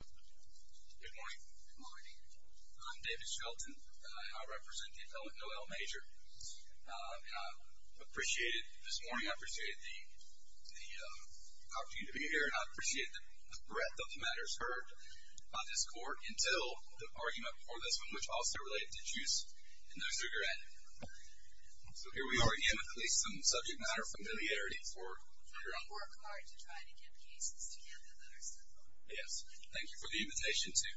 Good morning. Good morning. I'm David Shelton and I represent the appellate Noelle Major. I appreciated this morning, I appreciated the opportunity to be here and I appreciated the breadth of the matters heard by this court until the argument before this one which also related to juice and no cigarette. So here we are again with at least some subject matter familiarity for figuring out... Yes, thank you for the invitation to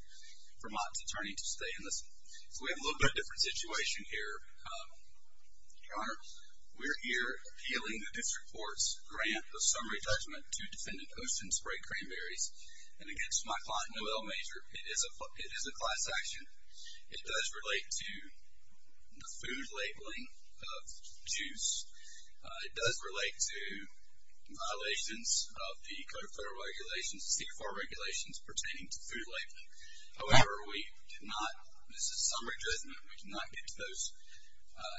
Vermont's attorney to stay and listen. So we have a little bit of a different situation here. Your Honor, we're here appealing the district court's grant of summary judgment to defendant Ocean Spray Cranberries and against my client Noelle Major. It is a class action. It does relate to the food labeling of juice. It does relate to violations of the CFAR regulations pertaining to food labeling. However, we did not, this is summary judgment, we did not get to those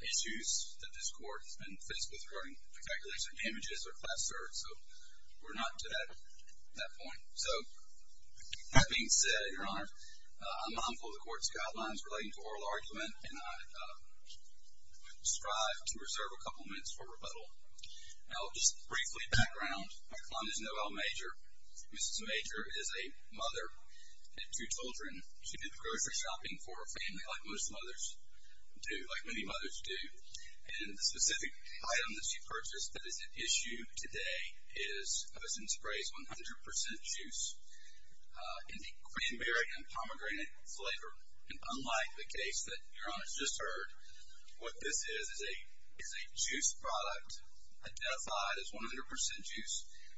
issues that this court has been faced with regarding the calculation of damages or class search. So we're not to that point. So that being said, Your Honor, I'm mindful of the court's guidelines relating to oral argument and I strive to reserve a couple minutes for rebuttal. I'll just briefly background. My client is Noelle Major. Mrs. Major is a mother of two children. She did grocery shopping for her family like most mothers do, like many mothers do. And the specific item that she purchased that is at issue today is Ocean Spray's 100% juice in the cranberry and pomegranate flavor. And unlike the case that Your Honor has just heard, what this is is a juice product identified as 100% juice,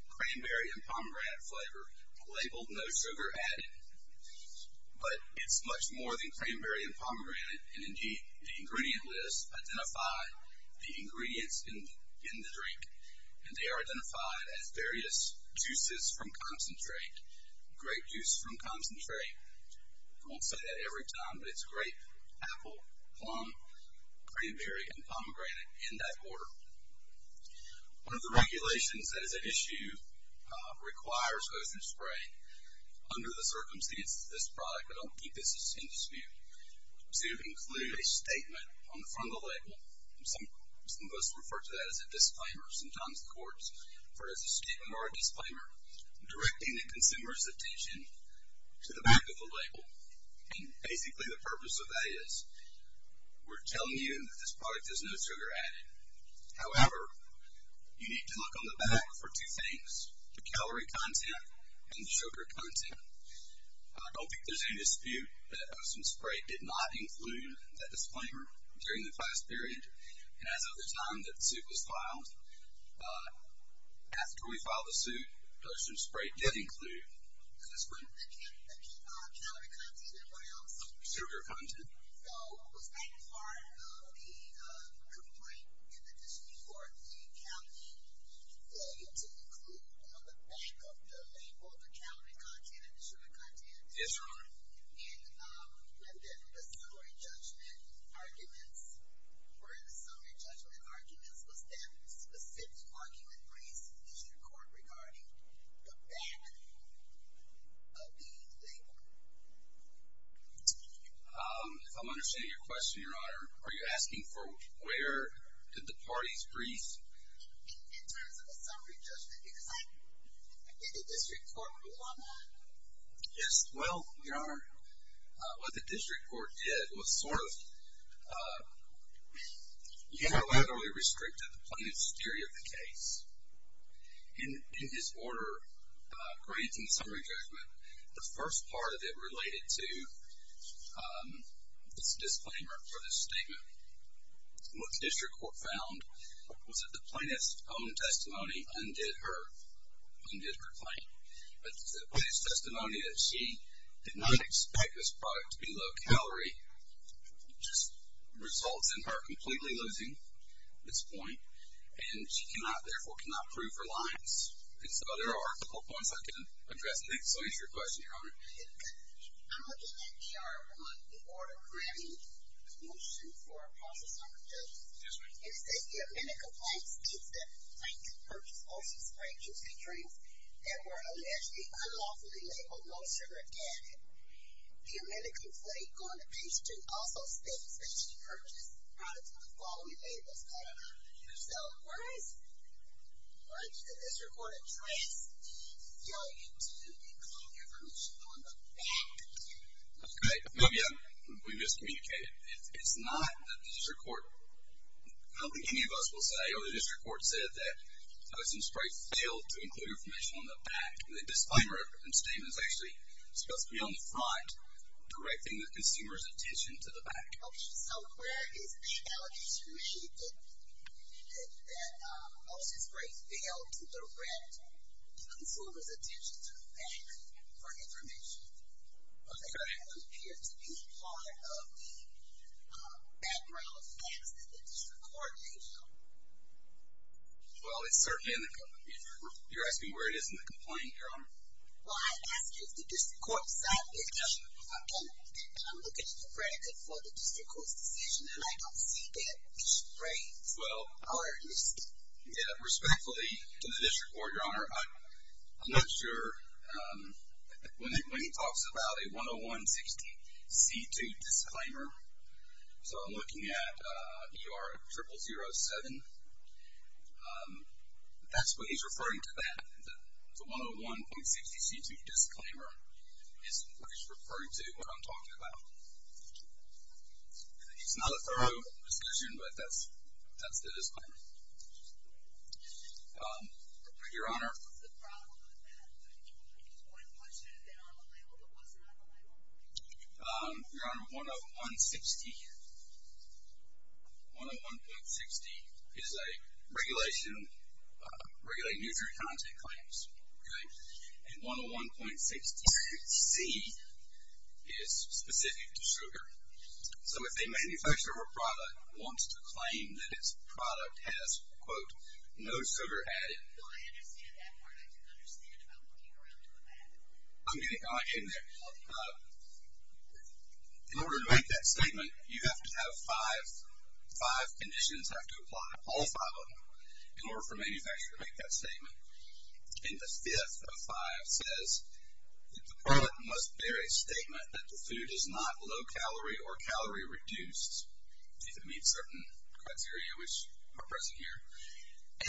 cranberry and pomegranate flavor, labeled no sugar added. But it's much more than cranberry and pomegranate. And indeed, the ingredient lists identify the ingredients in the drink. And they are identified as various juices from concentrate, grape juice from concentrate. I won't say that every time, but it's grape, apple, plum, cranberry, and pomegranate in that order. One of the regulations that is at issue requires Ocean Spray, under the circumstances of this product, but I'll keep this in dispute, to include a statement on the front of the label. Some of us refer to that as a disclaimer. Sometimes courts refer to it as a statement or a disclaimer directing the consumer's attention to the back of the label. And basically the purpose of that is we're telling you that this product is no sugar added. However, you need to look on the back for two things, the calorie content and the sugar content. I don't think there's any dispute that Ocean Spray did not include that disclaimer during the class period. And as of the time that the suit was filed, after we filed the suit, Ocean Spray did include that disclaimer. The calorie content and what else? Sugar content. So was that part of the complaint in the district court, the calorie failure to include on the back of the label, the calorie content and the sugar content? Yes, Your Honor. And then the summary judgment arguments, were the summary judgment arguments, was that specific argument raised in the district court regarding the back of the label? I'm understanding your question, Your Honor. Are you asking for where did the parties brief? In terms of the summary judgment. Did the district court rule on that? Yes. Well, Your Honor, what the district court did was sort of unilaterally restricted the plaintiff's theory of the case. In his order granting summary judgment, the first part of it related to this disclaimer for this statement. What the district court found was that the plaintiff's own testimony undid her claim. But the plaintiff's testimony that she did not expect this product to be low calorie just results in her completely losing this point. And she cannot, therefore, cannot prove her lies. And so there are a couple points I can address. So what is your question, Your Honor? I'm looking at the order granting the motion for a process summary judgment. Excuse me. And it says the amended complaint states that the plaintiff purchased O'Shea Sprank juice and drinks that were allegedly unlawfully labeled no sugar added. The amended complaint going to page 2 also states that she purchased products with the following labels. Your Honor, so where is the district court address? Yo, you do need to call your permission on the back. Okay. Well, yeah. We miscommunicated. It's not that the district court, I don't think any of us will say, or the district court said that O'Shea Sprank failed to include information on the back. The disclaimer statement is actually supposed to be on the front directing the consumer's attention to the back. Okay. So where is the allegation made that O'Shea Sprank failed to direct the consumer's attention to the back for information? Okay. It doesn't appear to be part of the background facts that the district court made. Well, it's certainly in the complaint. You're asking where it is in the complaint, Your Honor? Well, I asked if the district court signed it. Okay. I'm looking at the predicate for the district court's decision, and I don't see that O'Shea Sprank. Well, respectfully to the district court, Your Honor, I'm not sure when he talks about a 101.60C2 disclaimer. So I'm looking at ER0007. That's what he's referring to, that. The 101.60C2 disclaimer is what he's referring to, what I'm talking about. It's not a thorough decision, but that's the disclaimer. Your Honor? What was the problem with that? When was it on the label? What wasn't on the label? Your Honor, 101.60. 101.60 is a regulation regulating user content claims, okay? And 101.60C is specific to sugar. So if a manufacturer or product wants to claim that its product has, quote, no sugar added. No, I understand that part. I didn't understand about looking around to look at it. I'm getting there. In order to make that statement, you have to have five conditions have to apply, all five of them, in order for a manufacturer to make that statement. And the fifth of five says that the product must bear a statement that the food is not low-calorie or calorie-reduced, if it meets certain criteria which are present here,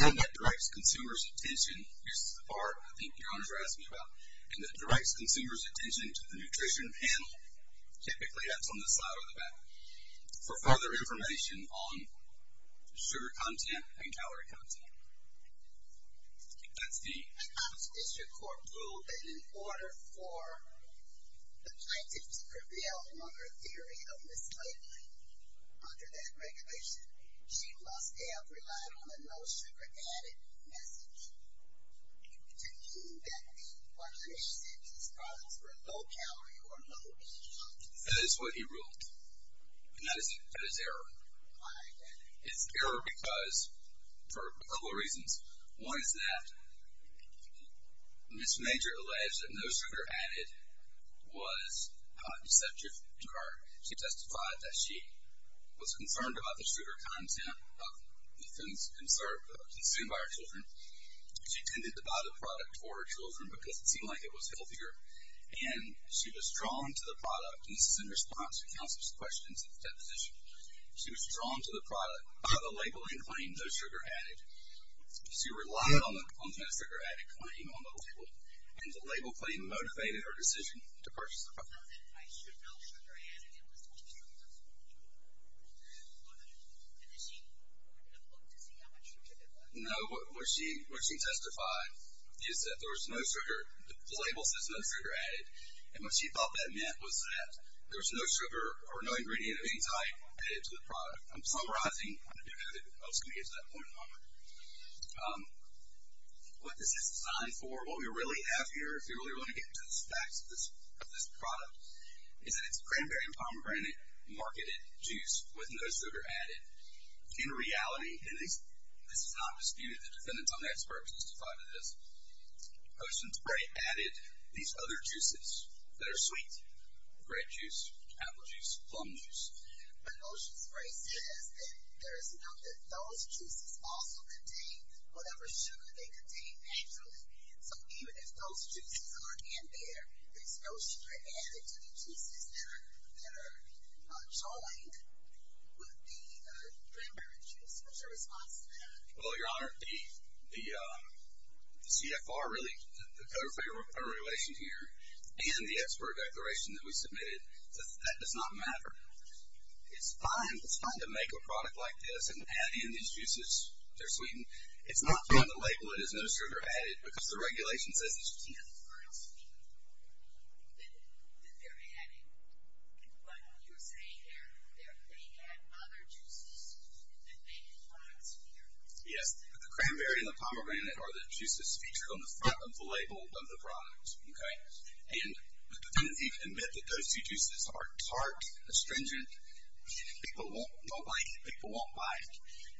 and that directs consumers' attention. This is the part I think your Honors are asking about. And that directs consumers' attention to the nutrition panel, typically that's on the side or the back, for further information on sugar content and calorie content. That's the... I thought the district court ruled that in order for the plaintiff to prevail on her theory of mislabeling under that regulation, she must have relied on the no sugar added message to mean that the 100C products were low-calorie or low-calorie. That is what he ruled. And that is error. It's error because, for a couple of reasons. One is that Ms. Major alleged that no sugar added was not deceptive to her. She testified that she was concerned about the sugar content of the foods consumed by her children. She tended to buy the product for her children because it seemed like it was healthier. And she was drawn to the product, and this is in response to counsel's questions at the deposition, she was drawn to the product by the label that claimed no sugar added. She relied on the no sugar added claim on the label, and the label claim motivated her decision to purchase the product. I should know sugar added. It was 100C. And did she read the book to see how much sugar there was? No. What she testified is that there was no sugar. The label says no sugar added. And what she thought that meant was that there was no sugar or no ingredient of any type added to the product. I'm summarizing. I'm just going to get to that point in a moment. What this is designed for, what we really have here, if you really want to get into the facts of this product, is that it's cranberry and pomegranate marketed juice with no sugar added. In reality, and this is not disputed, the defendants on that spurt testified to this, Ocean Spray added these other juices that are sweet, grape juice, apple juice, plum juice. But Ocean Spray says that there is nothing. Those juices also contain whatever sugar they contain naturally. So even if those juices aren't in there, there's no sugar added to the juices that are joined with the cranberry juice. What's your response to that? Well, Your Honor, the CFR really, the Code of Federal Regulations here, and the expert declaration that we submitted, that that does not matter. It's fine. It's fine to make a product like this and add in these juices. They're sweetened. It's not fine to label it as no sugar added, because the regulation says it's not. Yes. The cranberry and the pomegranate are the juices featured on the front of the label of the product. Okay? And the defendants even admit that those two juices are tart, astringent. People won't like it. People won't buy it.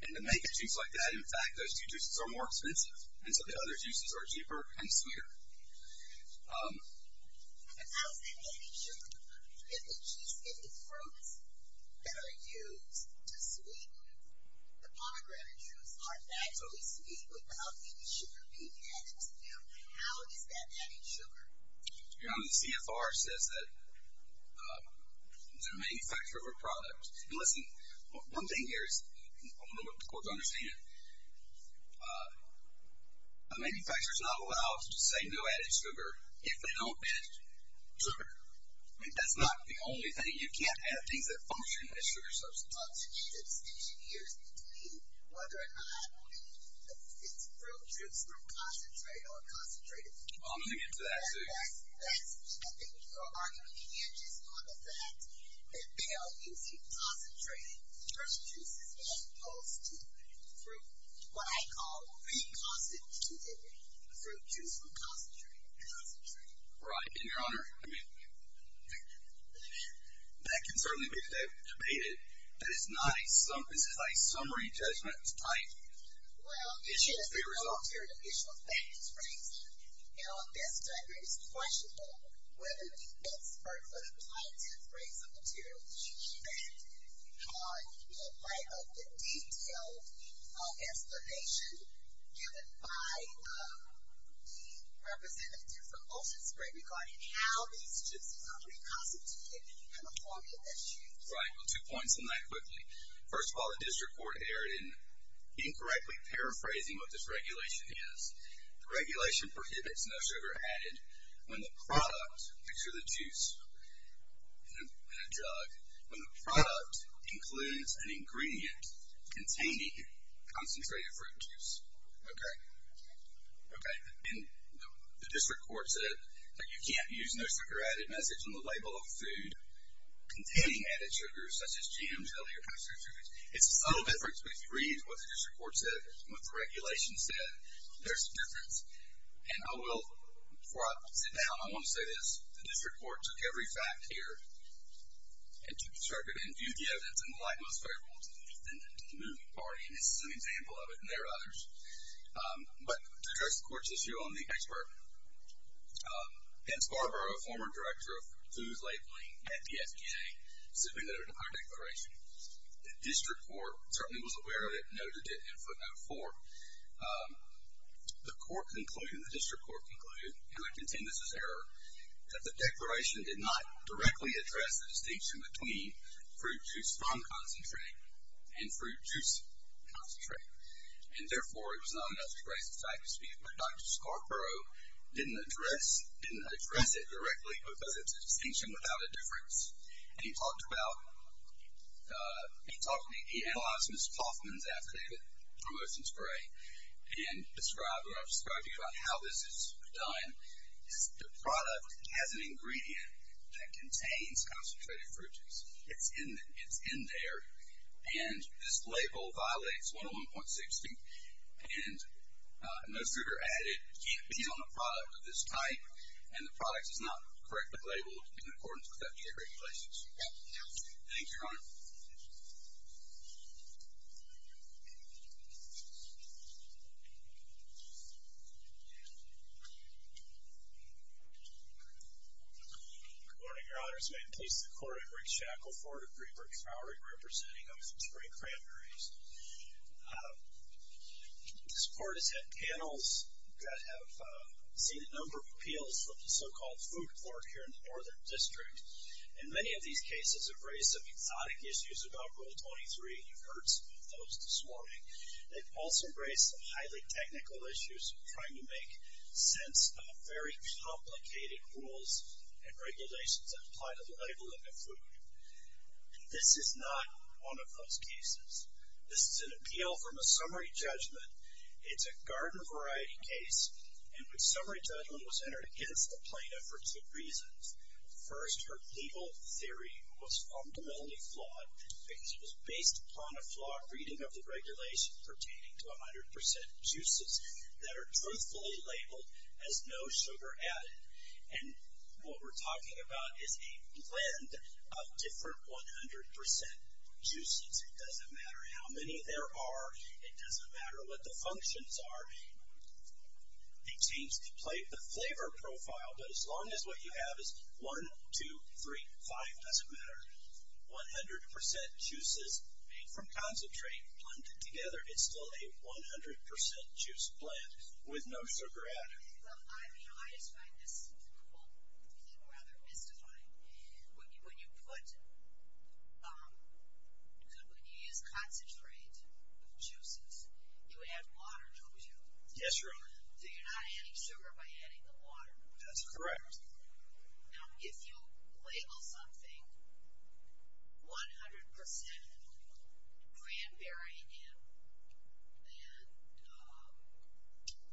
And to make a juice like that, in fact, those two juices are more expensive, and so the other juices are cheaper and sweeter. And how is that adding sugar? If the juice, if the fruits that are used to sweeten the pomegranate juice are naturally sweet without any sugar being added to them, how is that adding sugar? Your Honor, the CFR says that the manufacturer of a product, and listen, one thing here is, I want the court to understand, a manufacturer is not allowed to say no added sugar if they don't add sugar. That's not the only thing. You can't add things that function as sugar substitutes. Well, I'm going to get to that soon. Concentrated fruit juices are opposed to what I call reconstituted fruit juice from concentrated concentrate. Right. And, Your Honor, I mean, that can certainly be debated. That is not a summary judgment type issue as a result. Well, this is an alternative issue of facts-raising, and on this record it's questionable whether the expert would apply it to a phrase of material use. And you can write a detailed explanation given by the representative from Ocean Spray regarding how these juices are reconstituted and the formula that's used. Right. Well, two points on that quickly. First of all, the district court erred in incorrectly paraphrasing what this regulation is. The regulation prohibits no sugar added when the product, picture the juice in a jug, when the product includes an ingredient containing concentrated fruit juice. Okay. Okay. And the district court said that you can't use no sugar added message on the label of food containing added sugars, such as jam, jelly, or concentrated foods. It's a subtle difference, but if you read what the district court said and what the regulation said, there's a difference. And I will, before I sit down, I want to say this. The district court took every fact here and took the circuit and viewed the evidence in the light most favorable to the moving party, and this is an example of it, and there are others. But to address the court's issue on the expert, Ben Scarborough, a former director of foods labeling at the FDA, simply noted a higher declaration. The district court certainly was aware of it and noted it in footnote four. The court concluded, the district court concluded, and I contend this is error, that the declaration did not directly address the distinction between fruit juice from concentrate and fruit juice concentrate. And, therefore, it was not enough to raise the fact that Dr. Scarborough didn't address it directly because it's a distinction without a difference. And he talked about, he talked, he analyzed Ms. Hoffman's affidavit for motion to pray and described, or I've described to you about how this is done. The product has an ingredient that contains concentrated fruit juice. It's in there, and this label violates 101.60, and no sugar added can be on a product of this type, and the product is not correctly labeled in accordance with FDA regulations. Thank you, Your Honor. Good morning, Your Honor. This is the Court of Briggs-Shackle, 4-3 Briggs Hourly, representing Oceanspring Cranberries. This court has had panels that have seen a number of appeals, from the so-called food court here in the Northern District, and many of these cases have raised some exotic issues about Rule 23. You've heard some of those this morning. They've also raised some highly technical issues trying to make sense of very complicated rules and regulations that apply to the labeling of food. This is not one of those cases. This is an appeal from a summary judgment. It's a garden variety case, and the summary judgment was entered against the plaintiff for two reasons. First, her legal theory was fundamentally flawed, because it was based upon a flawed reading of the regulation pertaining to 100% juices that are truthfully labeled as no sugar added, and what we're talking about is a blend of different 100% juices. It doesn't matter how many there are. It doesn't matter what the functions are. It seems to play the flavor profile, but as long as what you have is 1, 2, 3, 5, it doesn't matter. 100% juices made from concentrate blended together is still a 100% juice blend with no sugar added. I just find this quote rather mystifying. When you use concentrate juices, you add water, don't you? Yes, Your Honor. So you're not adding sugar by adding the water. That's correct. Now, if you label something 100% cranberry and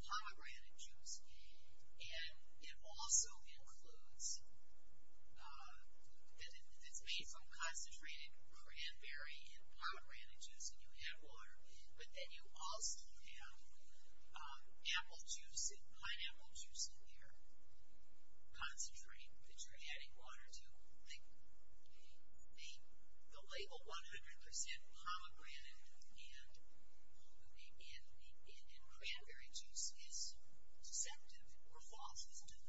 pomegranate juice, and it also includes that it's made from concentrated cranberry and pomegranate juice and you add water, but then you also have apple juice and pineapple juice in there, concentrate that you're adding water to, the label 100% pomegranate and cranberry juice is deceptive or false, isn't it?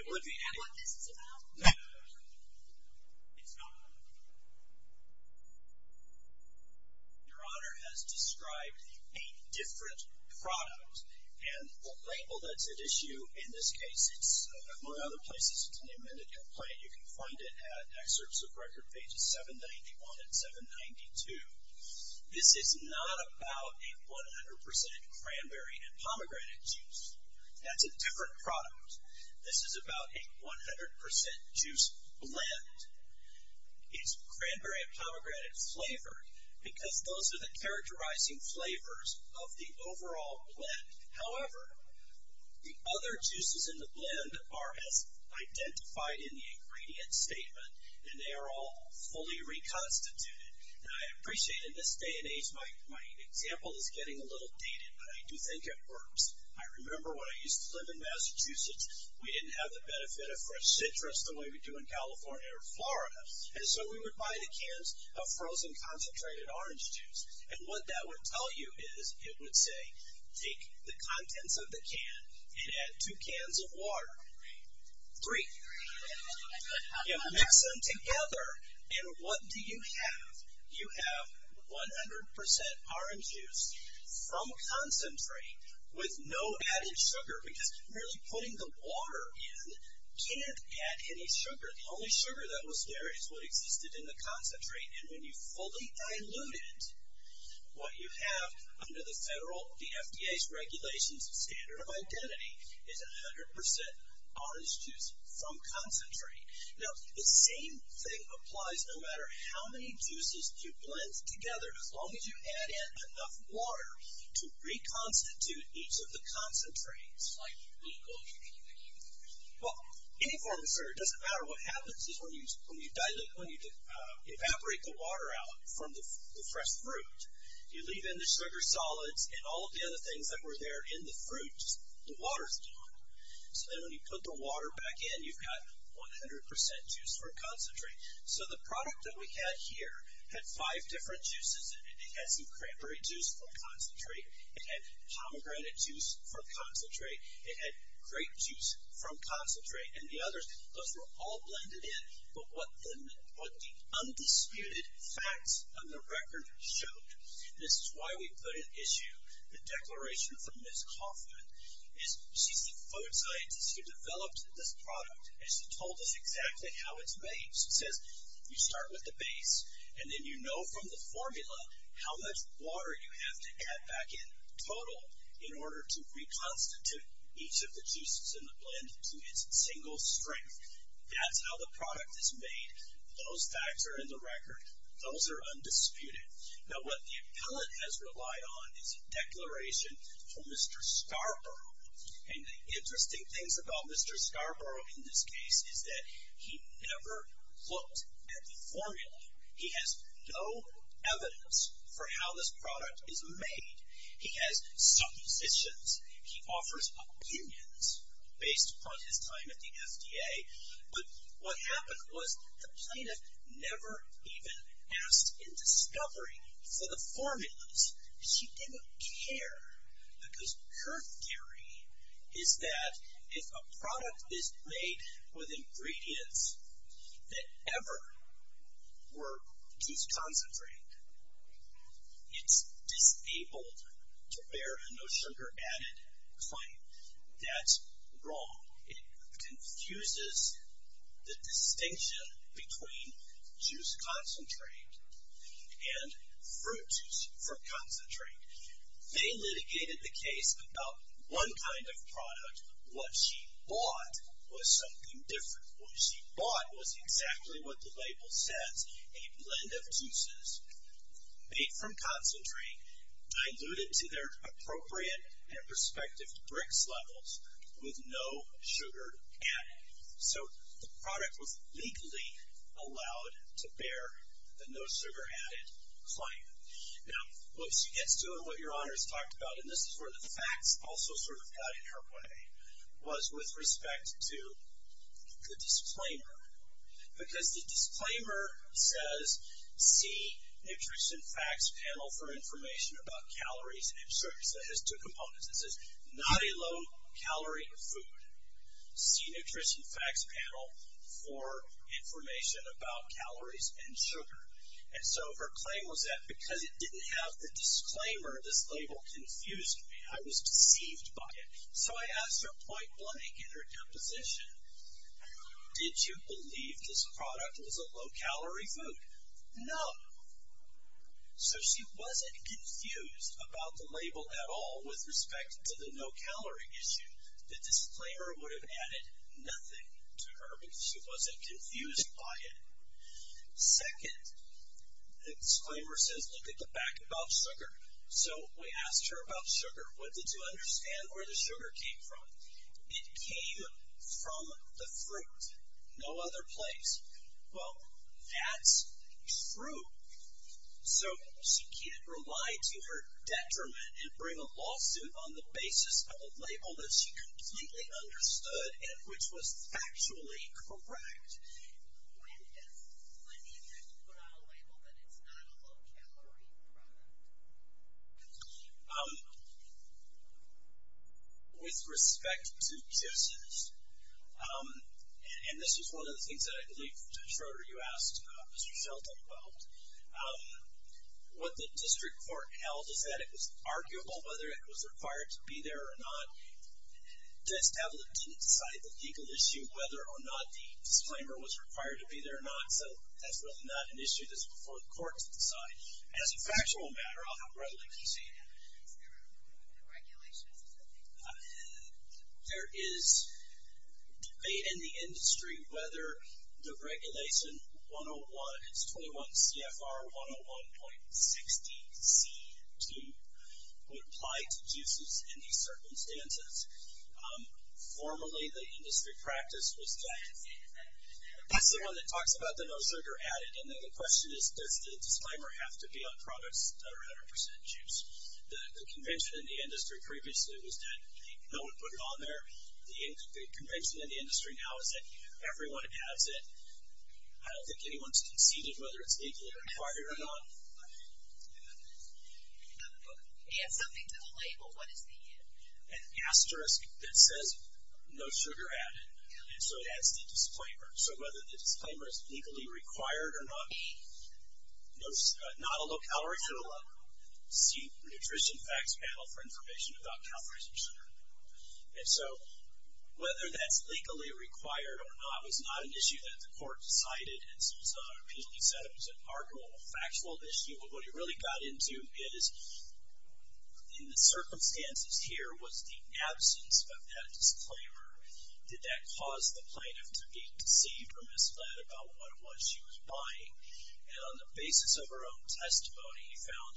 It would be. Is that what this is about? It's not. Your Honor has described eight different products, and the label that's at issue in this case, among other places, it's in the amended complaint. You can find it at excerpts of record pages 791 and 792. This is not about a 100% cranberry and pomegranate juice. That's a different product. This is about a 100% juice blend. It's cranberry and pomegranate flavored because those are the characterizing flavors of the overall blend. However, the other juices in the blend are as identified in the ingredient statement, and they are all fully reconstituted. And I appreciate in this day and age my example is getting a little dated, but I do think it works. I remember when I used to live in Massachusetts, we didn't have the benefit of fresh citrus the way we do in California or Florida. And so we would buy the cans of frozen concentrated orange juice. And what that would tell you is it would say, take the contents of the can and add two cans of water. Three. Mix them together, and what do you have? You have 100% orange juice from concentrate with no added sugar, because merely putting the water in can't add any sugar. The only sugar that was there is what existed in the concentrate. And when you fully dilute it, what you have under the federal, the FDA's regulations, standard of identity, is 100% orange juice from concentrate. Now, the same thing applies no matter how many juices you blend together, as long as you add in enough water to reconstitute each of the concentrates. Well, any form of sugar. It doesn't matter. What happens is when you dilute, when you evaporate the water out from the fresh fruit, you leave in the sugar solids and all of the other things that were there in the fruit, the water's gone. So then when you put the water back in, you've got 100% juice from concentrate. So the product that we had here had five different juices in it. It had some cranberry juice from concentrate. It had pomegranate juice from concentrate. It had grape juice from concentrate. And the others, those were all blended in. But what the undisputed facts of the record showed, this is why we put an issue, the declaration from Ms. Kaufman, is she's the food scientist who developed this product. And she told us exactly how it's made. She says, you start with the base, and then you know from the formula how much water you have to add back in total in order to reconstitute each of the juices in the blend to its single strength. That's how the product is made. Those facts are in the record. Those are undisputed. Now, what the appellate has relied on is a declaration from Mr. Scarborough. And the interesting things about Mr. Scarborough in this case is that he never looked at the formula. He has no evidence for how this product is made. He has suppositions. He offers opinions based upon his time at the FDA. But what happened was the plaintiff never even asked in discovery for the formulas. She didn't care because her theory is that if a product is made with ingredients that ever were deconcentrated, it's disabled to bear a no sugar added claim. That's wrong. It confuses the distinction between juice concentrate and fruit juice from concentrate. They litigated the case about one kind of product. What she bought was something different. What she bought was exactly what the label says, a blend of juices made from concentrate diluted to their appropriate and prospective BRX levels with no sugar added. So the product was legally allowed to bear the no sugar added claim. Now, what she gets to and what Your Honor has talked about, and this is where the facts also sort of got in her way, was with respect to the disclaimer. Because the disclaimer says, see interest in facts panel for information about calories and It says, not a low calorie food. See nutrition facts panel for information about calories and sugar. And so her claim was that because it didn't have the disclaimer, this label confused me. I was deceived by it. So I asked her point blank in her deposition, did you believe this product was a low calorie food? No. So she wasn't confused about the label at all with respect to the no calorie issue. The disclaimer would have added nothing to her because she wasn't confused by it. Second, the disclaimer says, look at the back above sugar. So we asked her about sugar. What did you understand where the sugar came from? It came from the fruit, no other place. Well, that's true. So she can't rely to her detriment and bring a lawsuit on the basis of a label that she completely understood and which was factually correct. When did you put on a label that it's not a low calorie product? With respect to this, and this is one of the things that I believe Judge Schroeder, you asked Mr. Schultz as well. What the district court held is that it was arguable whether it was required to be there or not. This applet didn't decide the legal issue, whether or not the disclaimer was required to be there or not. So that's really not an issue that's before the court to decide. As a factual matter, there is debate in the industry whether the regulation 101, it's 21 CFR 101.60 C2 would apply to juices in these circumstances. Formally, the industry practice was that. That's the one that talks about the no sugar added, and then the question is, does the disclaimer have to be on products that are 100% juice? The convention in the industry previously was that no one put it on there. The convention in the industry now is that everyone has it. I don't think anyone's conceded whether it's legally required or not. Add something to the label. What is the? An asterisk that says no sugar added. And so it adds the disclaimer. So whether the disclaimer is legally required or not, not a low-calorie food level, see Nutrition Facts Panel for information about calories and sugar. And so whether that's legally required or not was not an issue that the court decided. It was an article, a factual issue. But what it really got into is, in the circumstances here, was the absence of that disclaimer, did that cause the plaintiff to be deceived or misled about what it was she was buying? And on the basis of her own testimony, he found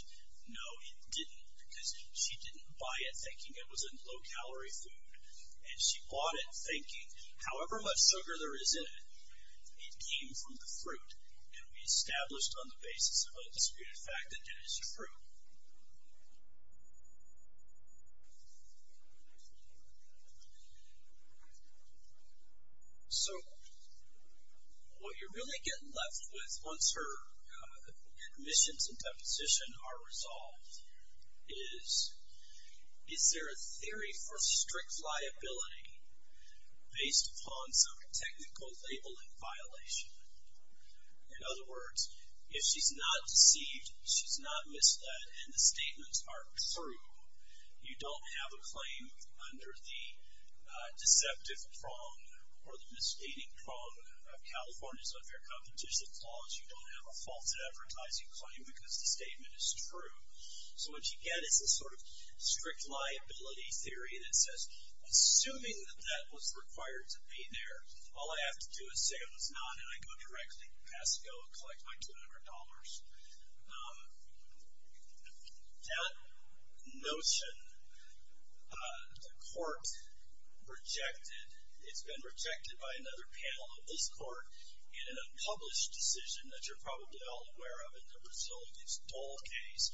no, it didn't because she didn't buy it thinking it was a low-calorie food. And she bought it thinking however much sugar there is in it, it came from the fruit. And we established on the basis of a disputed fact that it is true. So what you're really getting left with once her admissions and deposition are resolved is, is there a theory for strict liability based upon some technical labeling violation? In other words, if she's not deceived, she's not misled and the statements are true, you don't have a claim under the deceptive prong or the misstating prong of California's unfair competition clause. You don't have a false advertising claim because the statement is true. So what you get is a sort of strict liability theory that says, assuming that that was required to be there, all I have to do is say it was not and I go directly, pass, go and collect my $200. That notion, the court rejected, it's been rejected by another panel of this court in an unpublished decision that you're probably all aware of in the Brazil against Dole case.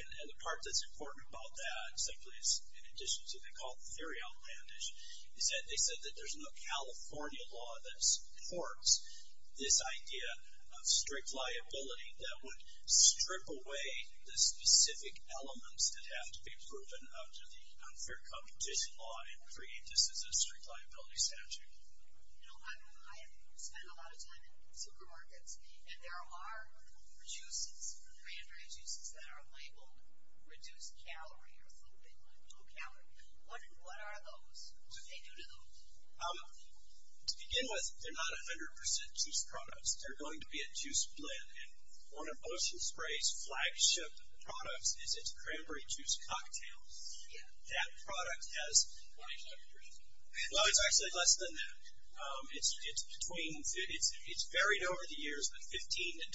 And the part that's important about that simply is, in addition to what they call theory outlandish, is that they said that there's no California law that supports this idea of that would strip away the specific elements that have to be proven under the unfair competition law and create this as a strict liability statute. You know, I spend a lot of time in supermarkets and there are juices, cranberry juices, that are labeled reduced calorie or a little bit like low calorie. What are those? What do they do to those? To begin with, they're not 100% juice products. They're going to be a juice blend. And one of Ocean Spray's flagship products is its cranberry juice cocktail. That product has 25%. Well, it's actually less than that. It's, it's between, it's, it's varied over the years, but 15 and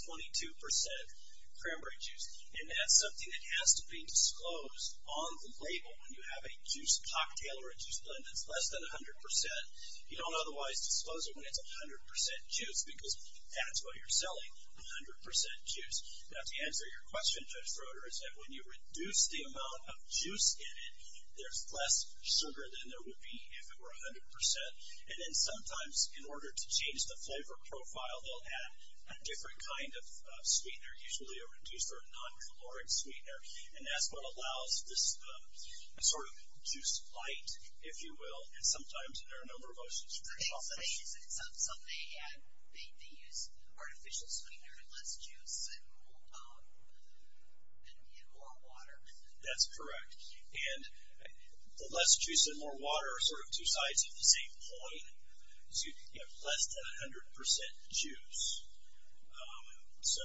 22% cranberry juice. And that's something that has to be disclosed on the label. When you have a juice cocktail or a juice blend, that's less than a hundred percent. You don't otherwise disclose it when it's a hundred percent juice because that's what you're selling. A hundred percent juice. Now, to answer your question, Judge Broder, is that when you reduce the amount of juice in it, there's less sugar than there would be if it were a hundred percent. And then sometimes in order to change the flavor profile, they'll add a different kind of sweetener, usually a reduced or a non-caloric sweetener. And that's what allows this sort of juice bite, if you will. And sometimes there are a number of options. So they use artificial sweetener to less juice and more water. That's correct. And the less juice and more water are sort of two sides of the same coin. So you have less than a hundred percent juice. So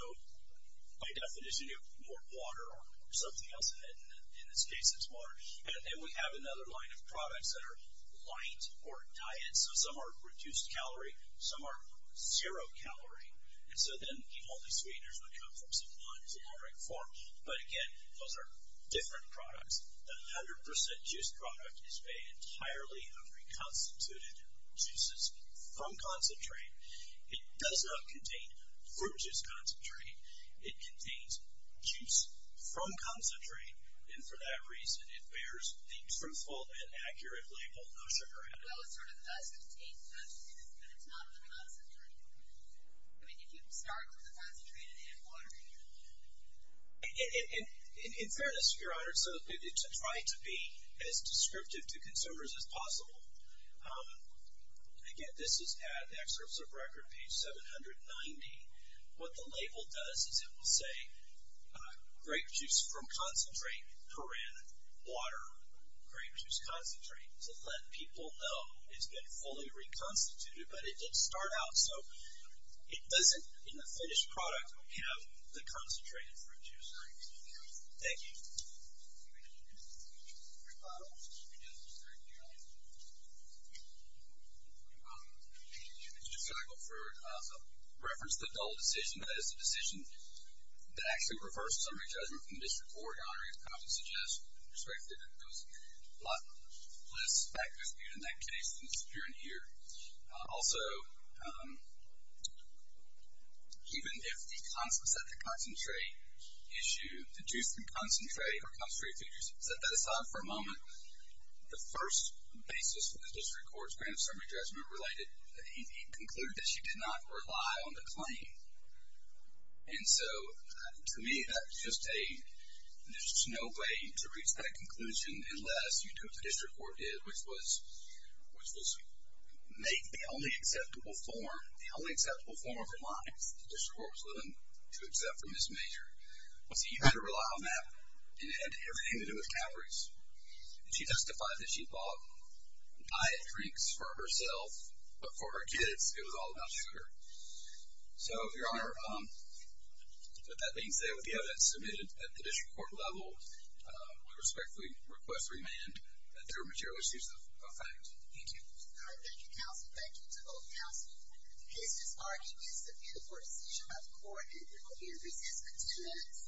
by definition, you have more water or something else in it. In this case, it's water. And then we have another line of products that are light or diet. So some are reduced calorie, some are zero calorie. And so then all these sweeteners would come from some non-caloric form. But again, those are different products. A hundred percent juice product is made entirely of reconstituted juices from concentrate. It does not contain fruit juice concentrate. It contains juice from concentrate. And for that reason, it bears the truthful and accurate label of sugar added. Well, it sort of does contain concentrate, but it's not in the concentrate. I mean, if you start with the concentrated and water, you're good. In fairness, Your Honor, so to try to be as descriptive to consumers as possible, again, this is at excerpts of record, page 790. What the label does is it will say grape juice from concentrate, perin, water, grape juice concentrate, to let people know it's been fully reconstituted, but it did start out. So it doesn't, in the finished product, have the concentrated fruit juice. Thank you. Thank you. I just got to go through, so I'll reference the dull decision, that is the decision that actually refers to summary judgment from the district court. Your Honor, I would suggest, with respect to that, it goes a lot less back and forth in that case than it does here and here. Also, even if the concentrate, issue, the juice from concentrate, or concentrated fruit juice, set that aside for a moment. The first basis for the district court's grant of summary judgment related, he concluded that she did not rely on the claim. And so, to me, that's just a, there's just no way to reach that conclusion unless you do what the district court did, which was, which was make the only acceptable form, the only acceptable form of her life, that the district court was willing to accept from this measure. So, you had to rely on that, and it had everything to do with calories. And she justified that she bought diet drinks for herself, but for her kids, it was all about sugar. So, Your Honor, with that being said, we have that submitted at the district court level. We respectfully request remand, that there are material issues of effect. Thank you. Thank you, counsel. Thank you to both counsel. Case disbarred. He is subpoenaed for seizure of court and will be in recess for two minutes.